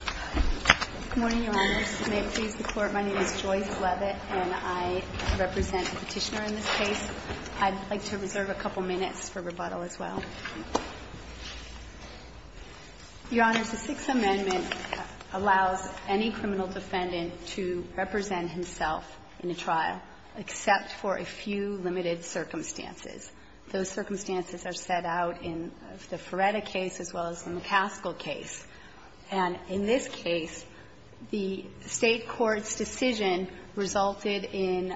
Good morning, Your Honors. May it please the Court, my name is Joyce Leavitt, and I represent the Petitioner in this case. I'd like to reserve a couple minutes for rebuttal as well. Your Honors, the Sixth Amendment allows any criminal defendant to represent himself in a trial, except for a few limited circumstances. Those circumstances are set out in the Ferretta case as well as the McCaskill case. And in this case, the State court's decision resulted in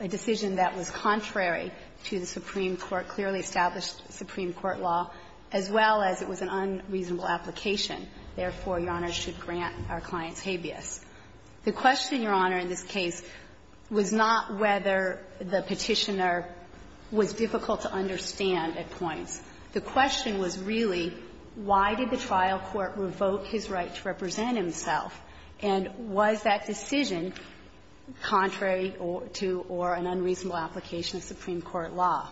a decision that was contrary to the Supreme Court, clearly established Supreme Court law, as well as it was an unreasonable application. Therefore, Your Honors, should grant our clients habeas. The question, Your Honor, in this case was not whether the Petitioner was difficult to understand at points. The question was really, why did the trial court revoke his right to represent himself, and was that decision contrary to or an unreasonable application of Supreme Court law?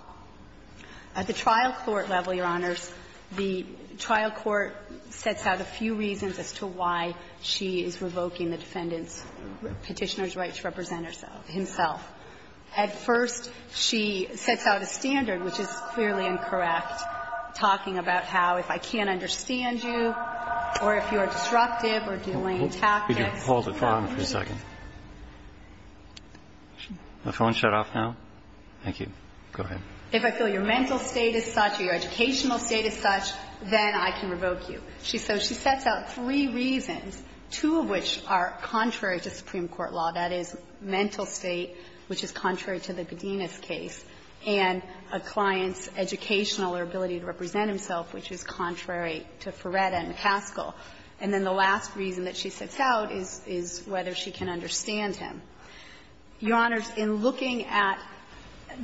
At the trial court level, Your Honors, the trial court sets out a few reasons as to why she is revoking the defendant's Petitioner's right to represent herself, himself. At first, she sets out a standard, which is clearly incorrect, talking about how if I can't understand you or if you are disruptive or delaying tactics. Roberts, please hold the phone for a second. The phone shut off now. Thank you. Go ahead. If I feel your mental state is such or your educational state is such, then I can revoke you. So she sets out three reasons, two of which are contrary to Supreme Court law, that is, mental state, which is contrary to the Godinez case, and a client's educational or ability to represent himself, which is contrary to Ferretta and McCaskill. And then the last reason that she sets out is whether she can understand him. Your Honors, in looking at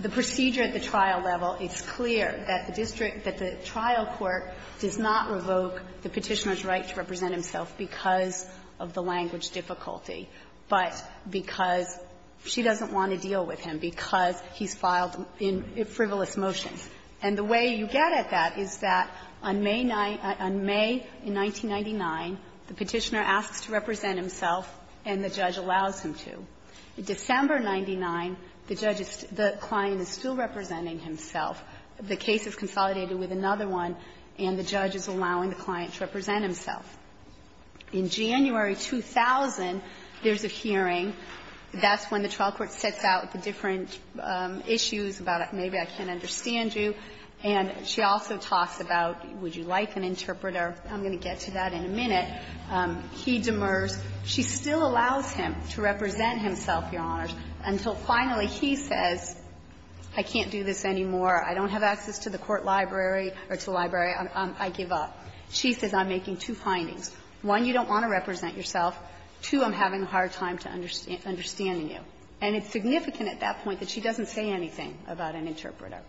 the procedure at the trial level, it's clear that the district that the trial court does not revoke the Petitioner's right to represent himself because of the language difficulty, but because she doesn't want to deal with him because he's filed in frivolous motions. And the way you get at that is that on May 9th – on May, in 1999, the Petitioner asks to represent himself and the judge allows him to. December 99, the judge is – the client is still representing himself. The case is consolidated with another one, and the judge is allowing the client to represent himself. In January 2000, there's a hearing. That's when the trial court sets out the different issues about maybe I can't understand you. And she also talks about would you like an interpreter? I'm going to get to that in a minute. He demurs. She still allows him to represent himself, Your Honors, until finally he says, I can't do this anymore. I don't have access to the court library or to the library. I give up. She says, I'm making two findings. One, you don't want to represent yourself. Two, I'm having a hard time to understand you. And it's significant at that point that she doesn't say anything about an interpreter.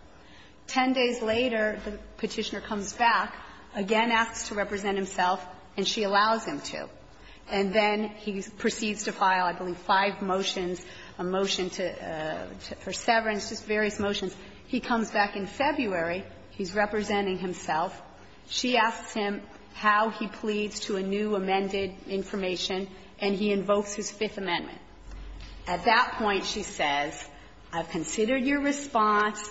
Ten days later, the Petitioner comes back, again asks to represent himself, and she allows him to. And then he proceeds to file, I believe, five motions, a motion to – for severance, just various motions. He comes back in February. He's representing himself. She asks him how he pleads to a new amended information, and he invokes his Fifth Amendment. At that point, she says, I've considered your response.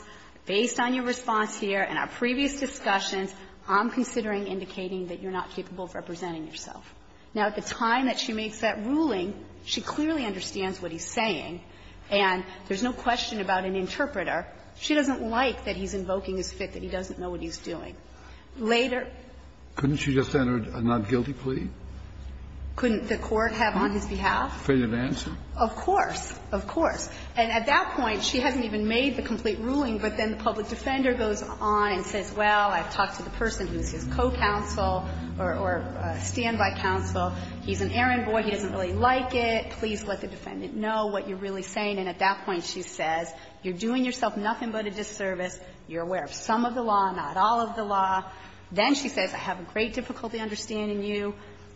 Based on your response here and our previous discussions, I'm considering indicating that you're not capable of representing yourself. Now, at the time that she makes that ruling, she clearly understands what he's saying. And there's no question about an interpreter. She doesn't like that he's invoking his Fifth, that he doesn't know what he's doing. Later – Kennedy, Jr.: Couldn't she have just entered a not guilty plea? Couldn't the court have on his behalf? Kennedy, Jr.: Freedom of answer? Of course. Of course. And at that point, she hasn't even made the complete ruling, but then the public defender goes on and says, well, I've talked to the person who's his co-counsel or standby counsel. He's an errant boy. He doesn't really like it. Please let the defendant know what you're really saying. And at that point, she says, you're doing yourself nothing but a disservice. You're aware of some of the law, not all of the law. Then she says, I have a great difficulty understanding you.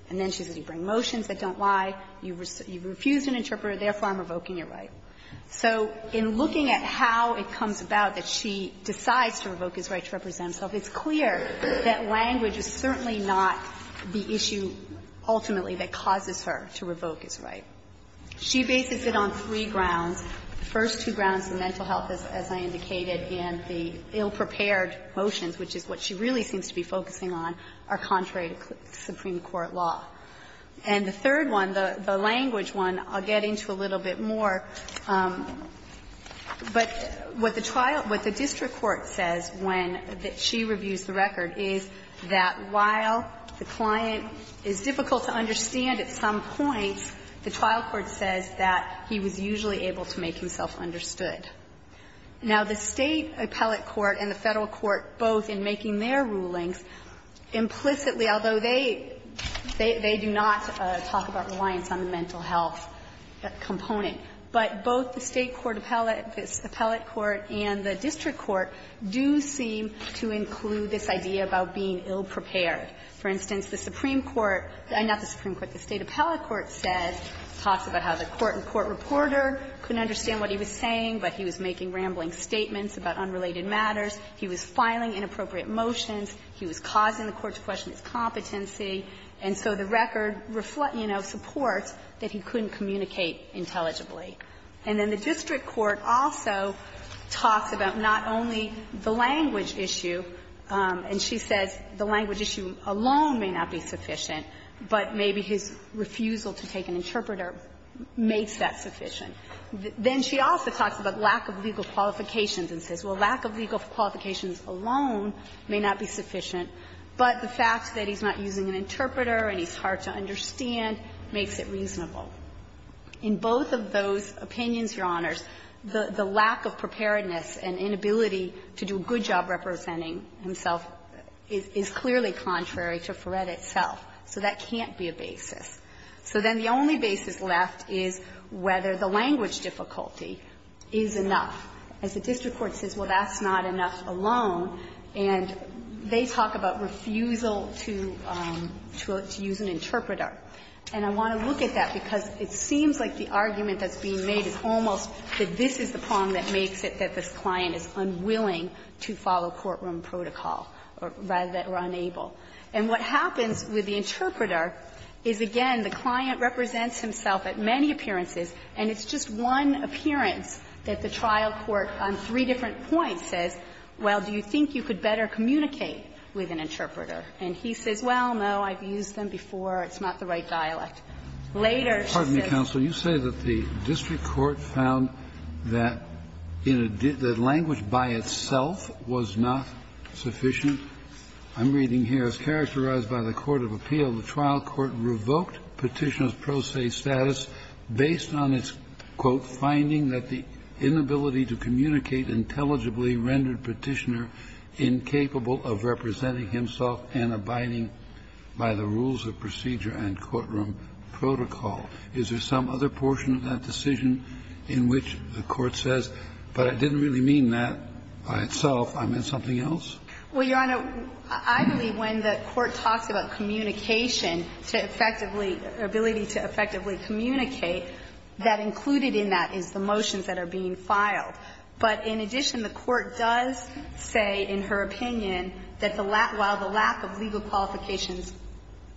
And then she says, you bring motions that don't lie. You've refused an interpreter. Therefore, I'm revoking your right. So in looking at how it comes about that she decides to revoke his right to represent himself, it's clear that language is certainly not the issue ultimately that causes her to revoke his right. She bases it on three grounds. The first two grounds, the mental health, as I indicated, and the ill-prepared motions, which is what she really seems to be focusing on, are contrary to Supreme Court law. And the third one, the language one, I'll get into a little bit more. But what the trial – what the district court says when she reviews the record is that while the client is difficult to understand at some point, the trial court says that he was usually able to make himself understood. Now, the State appellate court and the Federal court, both in making their rulings, implicitly, although they – they do not talk about reliance on the mental health component, but both the State court appellate – the appellate court and the district court do seem to include this idea about being ill-prepared. For instance, the Supreme Court – not the Supreme Court, the State appellate court says – talks about how the court and court reporter couldn't understand what he was saying, but he was making rambling statements about unrelated matters. He was filing inappropriate motions. He was causing the court to question its competency. And so the record, you know, supports that he couldn't communicate intelligibly. And then the district court also talks about not only the language issue, and she makes that sufficient. Then she also talks about lack of legal qualifications and says, well, lack of legal qualifications alone may not be sufficient, but the fact that he's not using an interpreter and he's hard to understand makes it reasonable. In both of those opinions, Your Honors, the lack of preparedness and inability to do a good job representing himself is clearly contrary to Farrett itself. So that can't be a basis. So then the only basis left is whether the language difficulty is enough. As the district court says, well, that's not enough alone. And they talk about refusal to – to use an interpreter. And I want to look at that because it seems like the argument that's being made is almost that this is the problem that makes it that this client is unwilling to follow courtroom protocol, or rather that we're unable. And what happens with the interpreter is, again, the client represents himself at many appearances, and it's just one appearance that the trial court on three different points says, well, do you think you could better communicate with an interpreter? And he says, well, no, I've used them before. It's not the right dialect. Later, she says the language by itself was not sufficient. I'm reading here, as characterized by the court of appeal, the trial court revoked Petitioner's pro se status based on its, quote, finding that the inability to communicate intelligibly rendered Petitioner incapable of representing himself and abiding by the rules of procedure and courtroom protocol. Is there some other portion of that decision in which the court says, but I didn't really mean that by itself, I meant something else? Well, Your Honor, I believe when the court talks about communication to effectively or ability to effectively communicate, that included in that is the motions that are being filed. But in addition, the court does say, in her opinion, that the lack of legal qualifications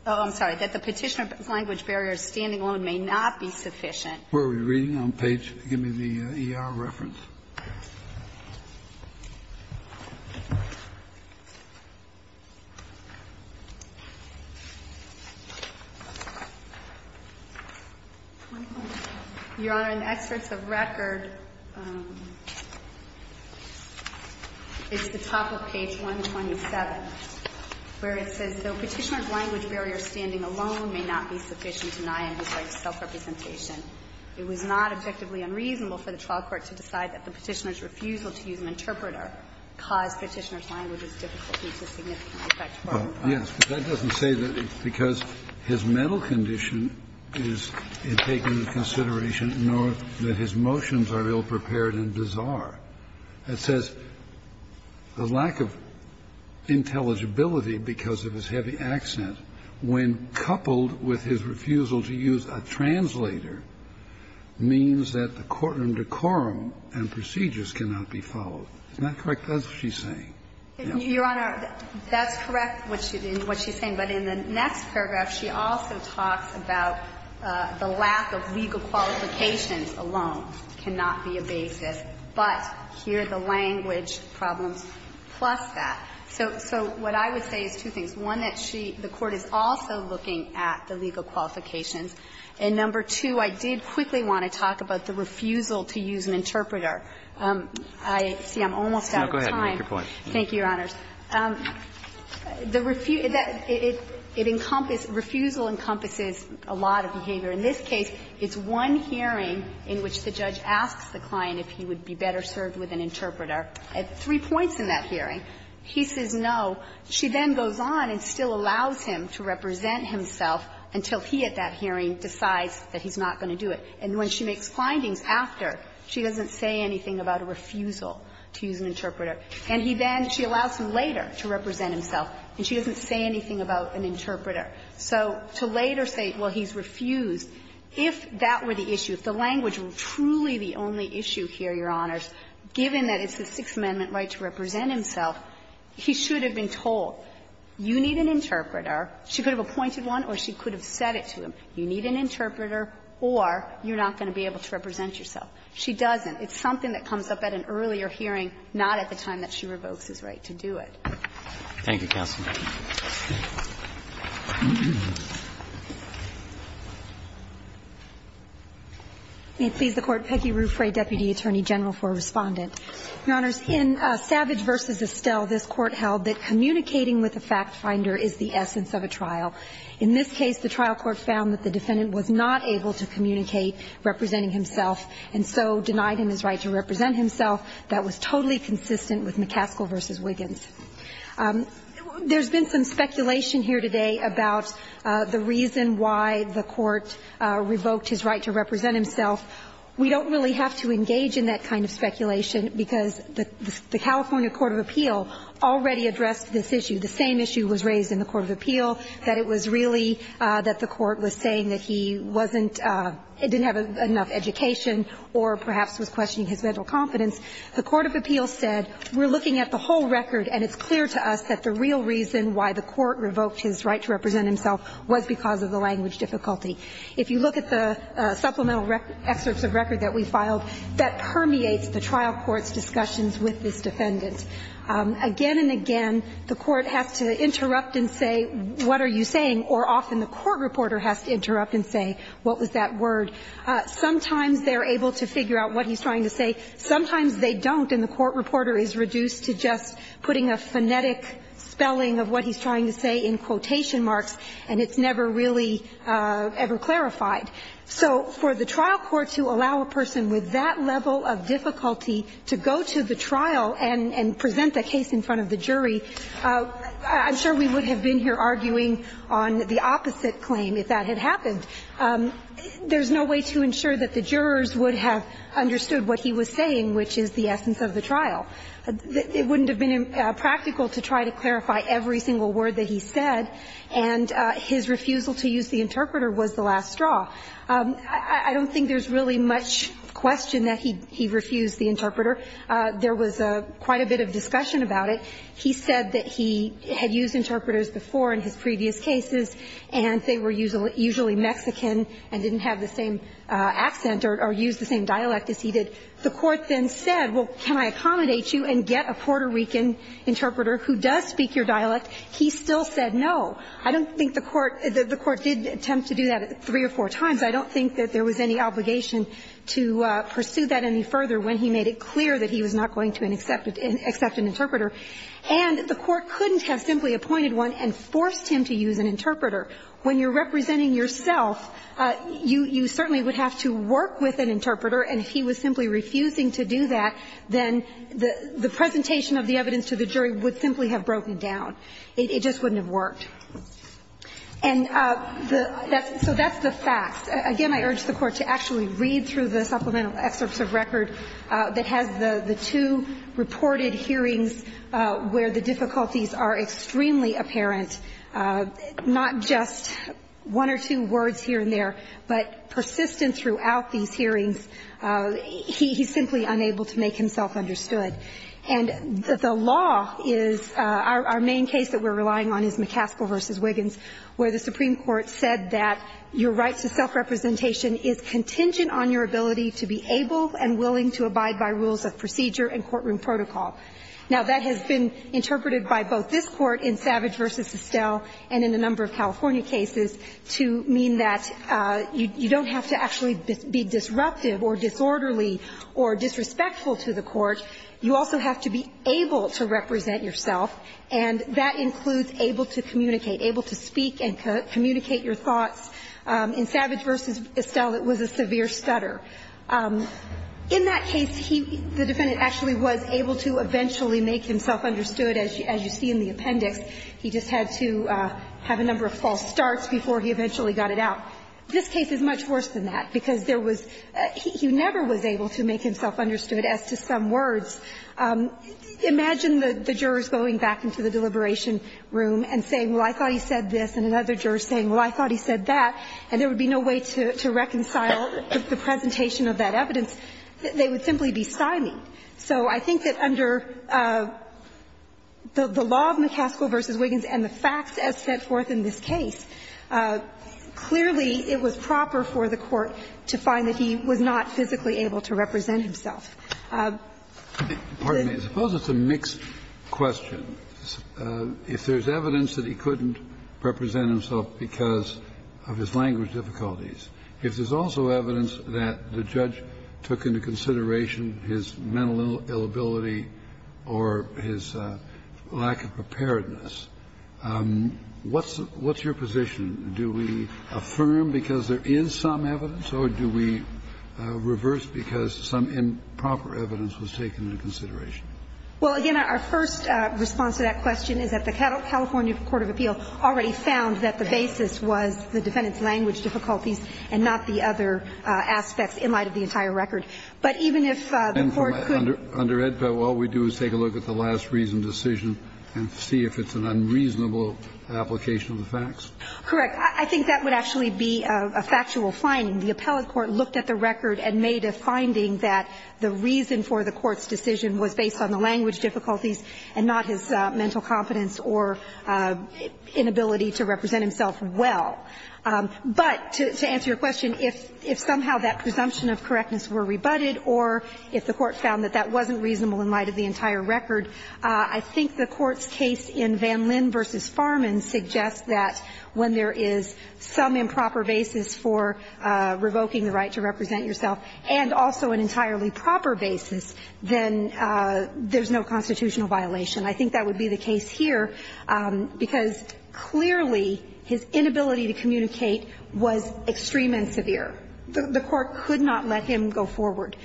oh, I'm sorry, that the Petitioner language barrier standing alone may not be sufficient. Where are we reading on page, give me the E.R. reference. Your Honor, in the excerpts of record, it's the top of page 127, where it says, Yes, but that doesn't say that it's because his mental condition is taken into consideration, nor that his motions are ill-prepared and bizarre. It says the lack of intelligibility because of his habit of not being able to communicate when coupled with his refusal to use a translator means that the court and decorum and procedures cannot be followed. Isn't that correct? That's what she's saying. Your Honor, that's correct, what she's saying. But in the next paragraph, she also talks about the lack of legal qualifications alone cannot be a basis, but here the language problems plus that. So what I would say is two things. One, that she, the Court is also looking at the legal qualifications. And number two, I did quickly want to talk about the refusal to use an interpreter. I see I'm almost out of time. Roberts. Thank you, Your Honors. The refusal, it encompasses, refusal encompasses a lot of behavior. In this case, it's one hearing in which the judge asks the client if he would be better served with an interpreter. At three points in that hearing, he says no. She then goes on and still allows him to represent himself until he at that hearing decides that he's not going to do it. And when she makes findings after, she doesn't say anything about a refusal to use an interpreter. And he then, she allows him later to represent himself, and she doesn't say anything about an interpreter. So to later say, well, he's refused, if that were the issue, if the language was truly the only issue here, Your Honors, given that it's the Sixth Amendment right to represent himself, he should have been told, you need an interpreter. She could have appointed one or she could have said it to him. You need an interpreter or you're not going to be able to represent yourself. She doesn't. It's something that comes up at an earlier hearing, not at the time that she revokes his right to do it. Roberts. Thank you, counsel. May it please the Court. Peggy Ruffray, Deputy Attorney General for Respondent. Your Honors, in Savage v. Estelle, this Court held that communicating with a factfinder is the essence of a trial. In this case, the trial court found that the defendant was not able to communicate representing himself, and so denied him his right to represent himself. That was totally consistent with McCaskill v. Wiggins. There's been some speculation here today about the reason why the Court revoked his right to represent himself. We don't really have to engage in that kind of speculation because the California court of appeal already addressed this issue. The same issue was raised in the court of appeal, that it was really that the Court was saying that he wasn't – didn't have enough education or perhaps was questioning his mental confidence. The court of appeal said, we're looking at the whole record, and it's clear to us that the real reason why the court revoked his right to represent himself was because of the language difficulty. If you look at the supplemental excerpts of record that we filed, that permeates the trial court's discussions with this defendant. Again and again, the court has to interrupt and say, what are you saying, or often the court reporter has to interrupt and say, what was that word. Sometimes they're able to figure out what he's trying to say. Sometimes they don't, and the court reporter is reduced to just putting a phonetic spelling of what he's trying to say in quotation marks, and it's never really ever clarified. So for the trial court to allow a person with that level of difficulty to go to the trial and present the case in front of the jury, I'm sure we would have been here arguing on the opposite claim if that had happened. There's no way to ensure that the jurors would have understood what he was saying, which is the essence of the trial. It wouldn't have been practical to try to clarify every single word that he said, and his refusal to use the interpreter was the last straw. I don't think there's really much question that he refused the interpreter. There was quite a bit of discussion about it. He said that he had used interpreters before in his previous cases, and they were usually Mexican and didn't have the same accent or used the same dialect as he did. The court then said, well, can I accommodate you and get a Puerto Rican interpreter who does speak your dialect? He still said no. I don't think the court did attempt to do that three or four times. I don't think that there was any obligation to pursue that any further when he made it clear that he was not going to accept an interpreter. And the court couldn't have simply appointed one and forced him to use an interpreter. When you're representing yourself, you certainly would have to work with an interpreter, and if he was simply refusing to do that, then the presentation of the evidence to the jury would simply have broken down. It just wouldn't have worked. And the – so that's the facts. Again, I urge the Court to actually read through the supplemental excerpts of record that has the two reported hearings where the difficulties are extremely apparent, not just one or two words here and there, but persistence throughout these hearings. He's simply unable to make himself understood. And the law is – our main case that we're relying on is McCaskill v. Wiggins, where the Supreme Court said that your right to self-representation is contingent on your ability to be able and willing to abide by rules of procedure and courtroom protocol. Now, that has been interpreted by both this Court in Savage v. Estelle and in a number of California cases to mean that you don't have to actually be disruptive or disorderly or disrespectful to the court. You also have to be able to represent yourself, and that includes able to communicate, able to speak and communicate your thoughts. In Savage v. Estelle, it was a severe stutter. In that case, he – the defendant actually was able to eventually make himself understood, as you see in the appendix. He just had to have a number of false starts before he eventually got it out. This case is much worse than that, because there was – he never was able to make himself understood, as to some words. Imagine the jurors going back into the deliberation room and saying, well, I thought he said this, and another juror saying, well, I thought he said that, and there was no representation of that evidence, they would simply be sidelined. So I think that under the law of McCaskill v. Wiggins and the facts as set forth in this case, clearly, it was proper for the Court to find that he was not physically able to represent himself. Kennedy, I suppose it's a mixed question. If there's evidence that he couldn't represent himself because of his language difficulties, if there's also evidence that the judge took into consideration his mental ill ability or his lack of preparedness, what's your position? Do we affirm because there is some evidence, or do we reverse because some improper evidence was taken into consideration? Well, again, our first response to that question is that the California court of appeal already found that the basis was the defendant's language difficulties and not the other aspects in light of the entire record. But even if the Court could under EDPA, all we do is take a look at the last reason decision and see if it's an unreasonable application of the facts. Correct. I think that would actually be a factual finding. The appellate court looked at the record and made a finding that the reason for the Court's decision was based on the language difficulties and not his mental competence or inability to represent himself well. But to answer your question, if somehow that presumption of correctness were rebutted or if the Court found that that wasn't reasonable in light of the entire record, I think the Court's case in Van Linn v. Farman suggests that when there is some improper basis for revoking the right to represent yourself and also an entirely proper basis, then there's no constitutional violation. I think that would be the case here because clearly his inability to communicate was extreme and severe. The Court could not let him go forward.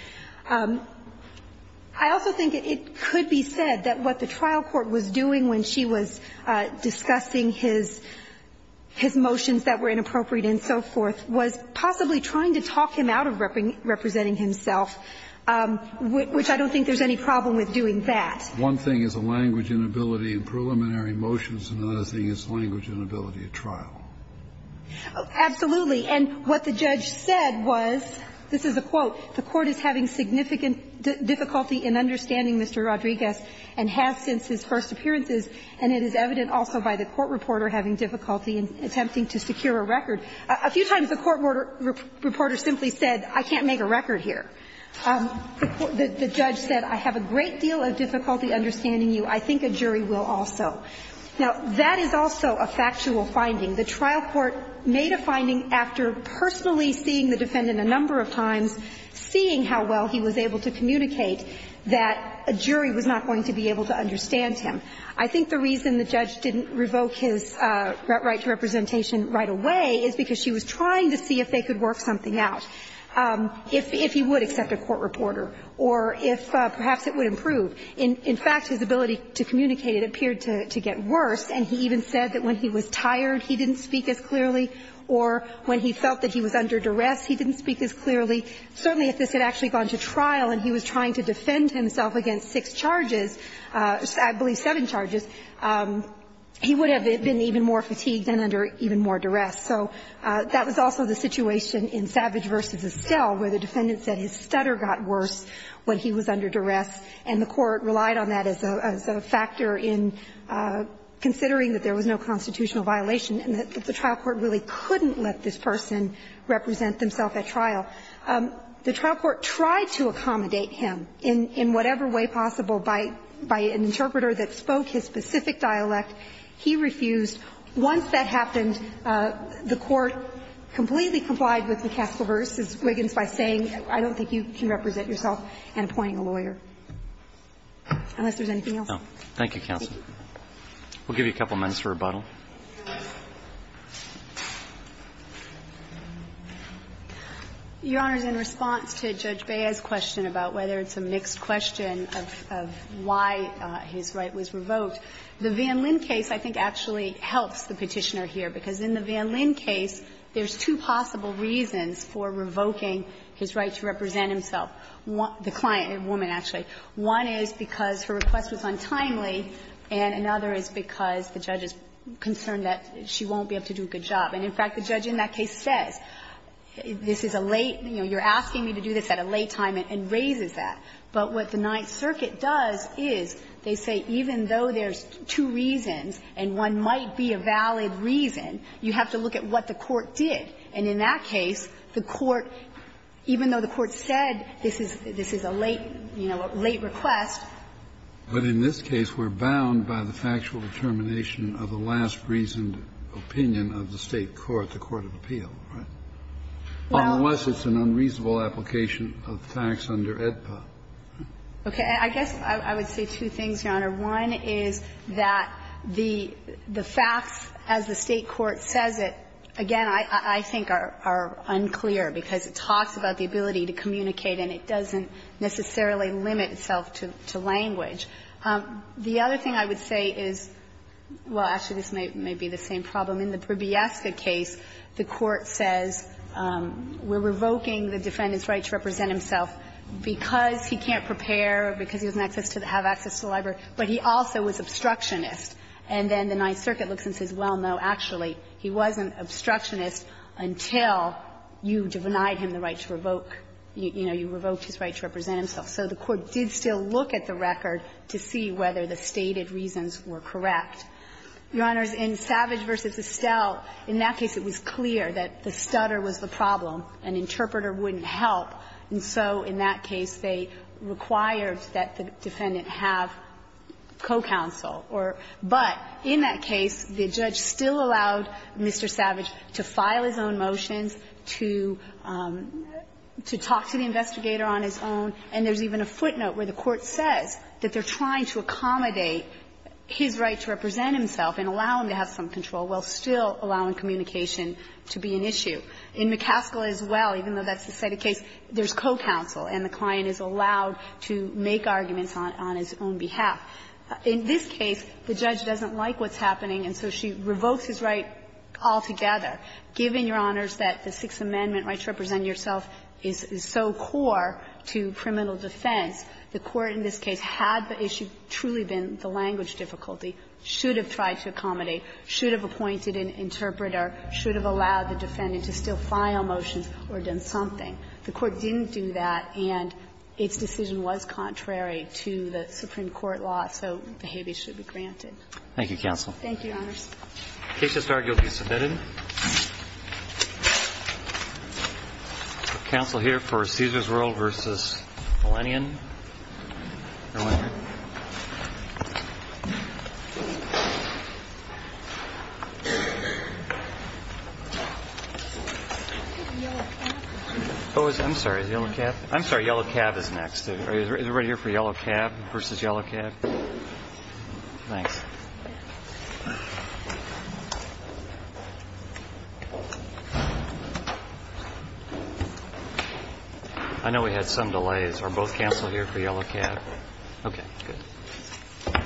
I also think it could be said that what the trial court was doing when she was discussing his motions that were inappropriate and so forth was possibly trying to talk him out of representing himself, which I don't think there's any problem with doing that. One thing is a language inability in preliminary motions, and another thing is language inability at trial. Absolutely. And what the judge said was, this is a quote, "...the Court is having significant difficulty in understanding Mr. Rodriguez and has since his first appearances, and it is evident also by the court reporter having difficulty in attempting to secure a record." A few times the court reporter simply said, I can't make a record here. The judge said, I have a great deal of difficulty understanding you. I think a jury will also. Now, that is also a factual finding. The trial court made a finding after personally seeing the defendant a number of times, seeing how well he was able to communicate, that a jury was not going to be able to understand him. I think the reason the judge didn't revoke his right to representation right away is because she was trying to see if they could work something out. If he would accept a court reporter, or if perhaps it would improve. In fact, his ability to communicate, it appeared to get worse, and he even said that when he was tired, he didn't speak as clearly, or when he felt that he was under duress, he didn't speak as clearly. Certainly, if this had actually gone to trial and he was trying to defend himself against six charges, I believe seven charges, he would have been even more fatigued and under even more duress. So that was also the situation in Savage v. Estelle, where the defendant said his stutter got worse when he was under duress, and the court relied on that as a factor in considering that there was no constitutional violation, and that the trial court really couldn't let this person represent themself at trial. The trial court tried to accommodate him in whatever way possible by an interpreter that spoke his specific dialect. He refused. Once that happened, the court completely complied with McCaskill-Hurst's Wiggins by saying, I don't think you can represent yourself and appointing a lawyer, unless there's anything else. Roberts. Thank you, counsel. We'll give you a couple minutes for rebuttal. Your Honor, in response to Judge Bea's question about whether it's a mixed question of why his right was revoked, the Van Linn case, I think, actually helps the Petitioner here, because in the Van Linn case, there's two possible reasons for revoking his right to represent himself, the client, the woman, actually. One is because her request was untimely, and another is because the judge is concerned that she won't be able to do a good job. And, in fact, the judge in that case says, this is a late, you know, you're asking me to do this at a late time, and raises that. But what the Ninth Circuit does is they say, even though there's two reasons and one might be a valid reason, you have to look at what the court did. And in that case, the court, even though the court said this is a late, you know, a late request. But in this case, we're bound by the factual determination of the last reasoned opinion of the State court, the court of appeal, right? Well, unless it's an unreasonable application. Kennedy, do you have a comment on the application of facts under AEDPA? Okay. I guess I would say two things, Your Honor. One is that the facts, as the State court says it, again, I think are unclear, because it talks about the ability to communicate and it doesn't necessarily limit itself to language. The other thing I would say is, well, actually, this may be the same problem. In the Probieska case, the court says, we're revoking the defendant's right to represent himself because he can't prepare, because he doesn't have access to the library, but he also was obstructionist. And then the Ninth Circuit looks and says, well, no, actually, he wasn't obstructionist until you denied him the right to revoke, you know, you revoked his right to represent himself. So the court did still look at the record to see whether the stated reasons were correct. Your Honors, in Savage v. Estelle, in that case it was clear that the stutter was the problem. An interpreter wouldn't help. And so in that case, they required that the defendant have co-counsel or – but in that case, the judge still allowed Mr. Savage to file his own motions, to talk to the investigator on his own, and there's even a footnote where the court says that they're trying to accommodate his right to represent himself and allow him to have some control, while still allowing communication to be an issue. In McCaskill as well, even though that's the stated case, there's co-counsel and the client is allowed to make arguments on his own behalf. In this case, the judge doesn't like what's happening, and so she revokes his right altogether. Given, Your Honors, that the Sixth Amendment right to represent yourself is so core to criminal defense, the Court in this case, had the issue truly been the language difficulty, should have tried to accommodate, should have appointed an interpreter, should have allowed the defendant to still file motions or done something. The Court didn't do that, and its decision was contrary to the Supreme Court law, so the habeas should be granted. Thank you, counsel. Thank you, Your Honors. The case has now been submitted. Counsel here for Caesars World v. Millennium. I'm sorry, Yellow Cab is next. Is everybody here for Yellow Cab v. Yellow Cab? Thanks. I know we had some delays. Are both counsel here for Yellow Cab? Okay. Good.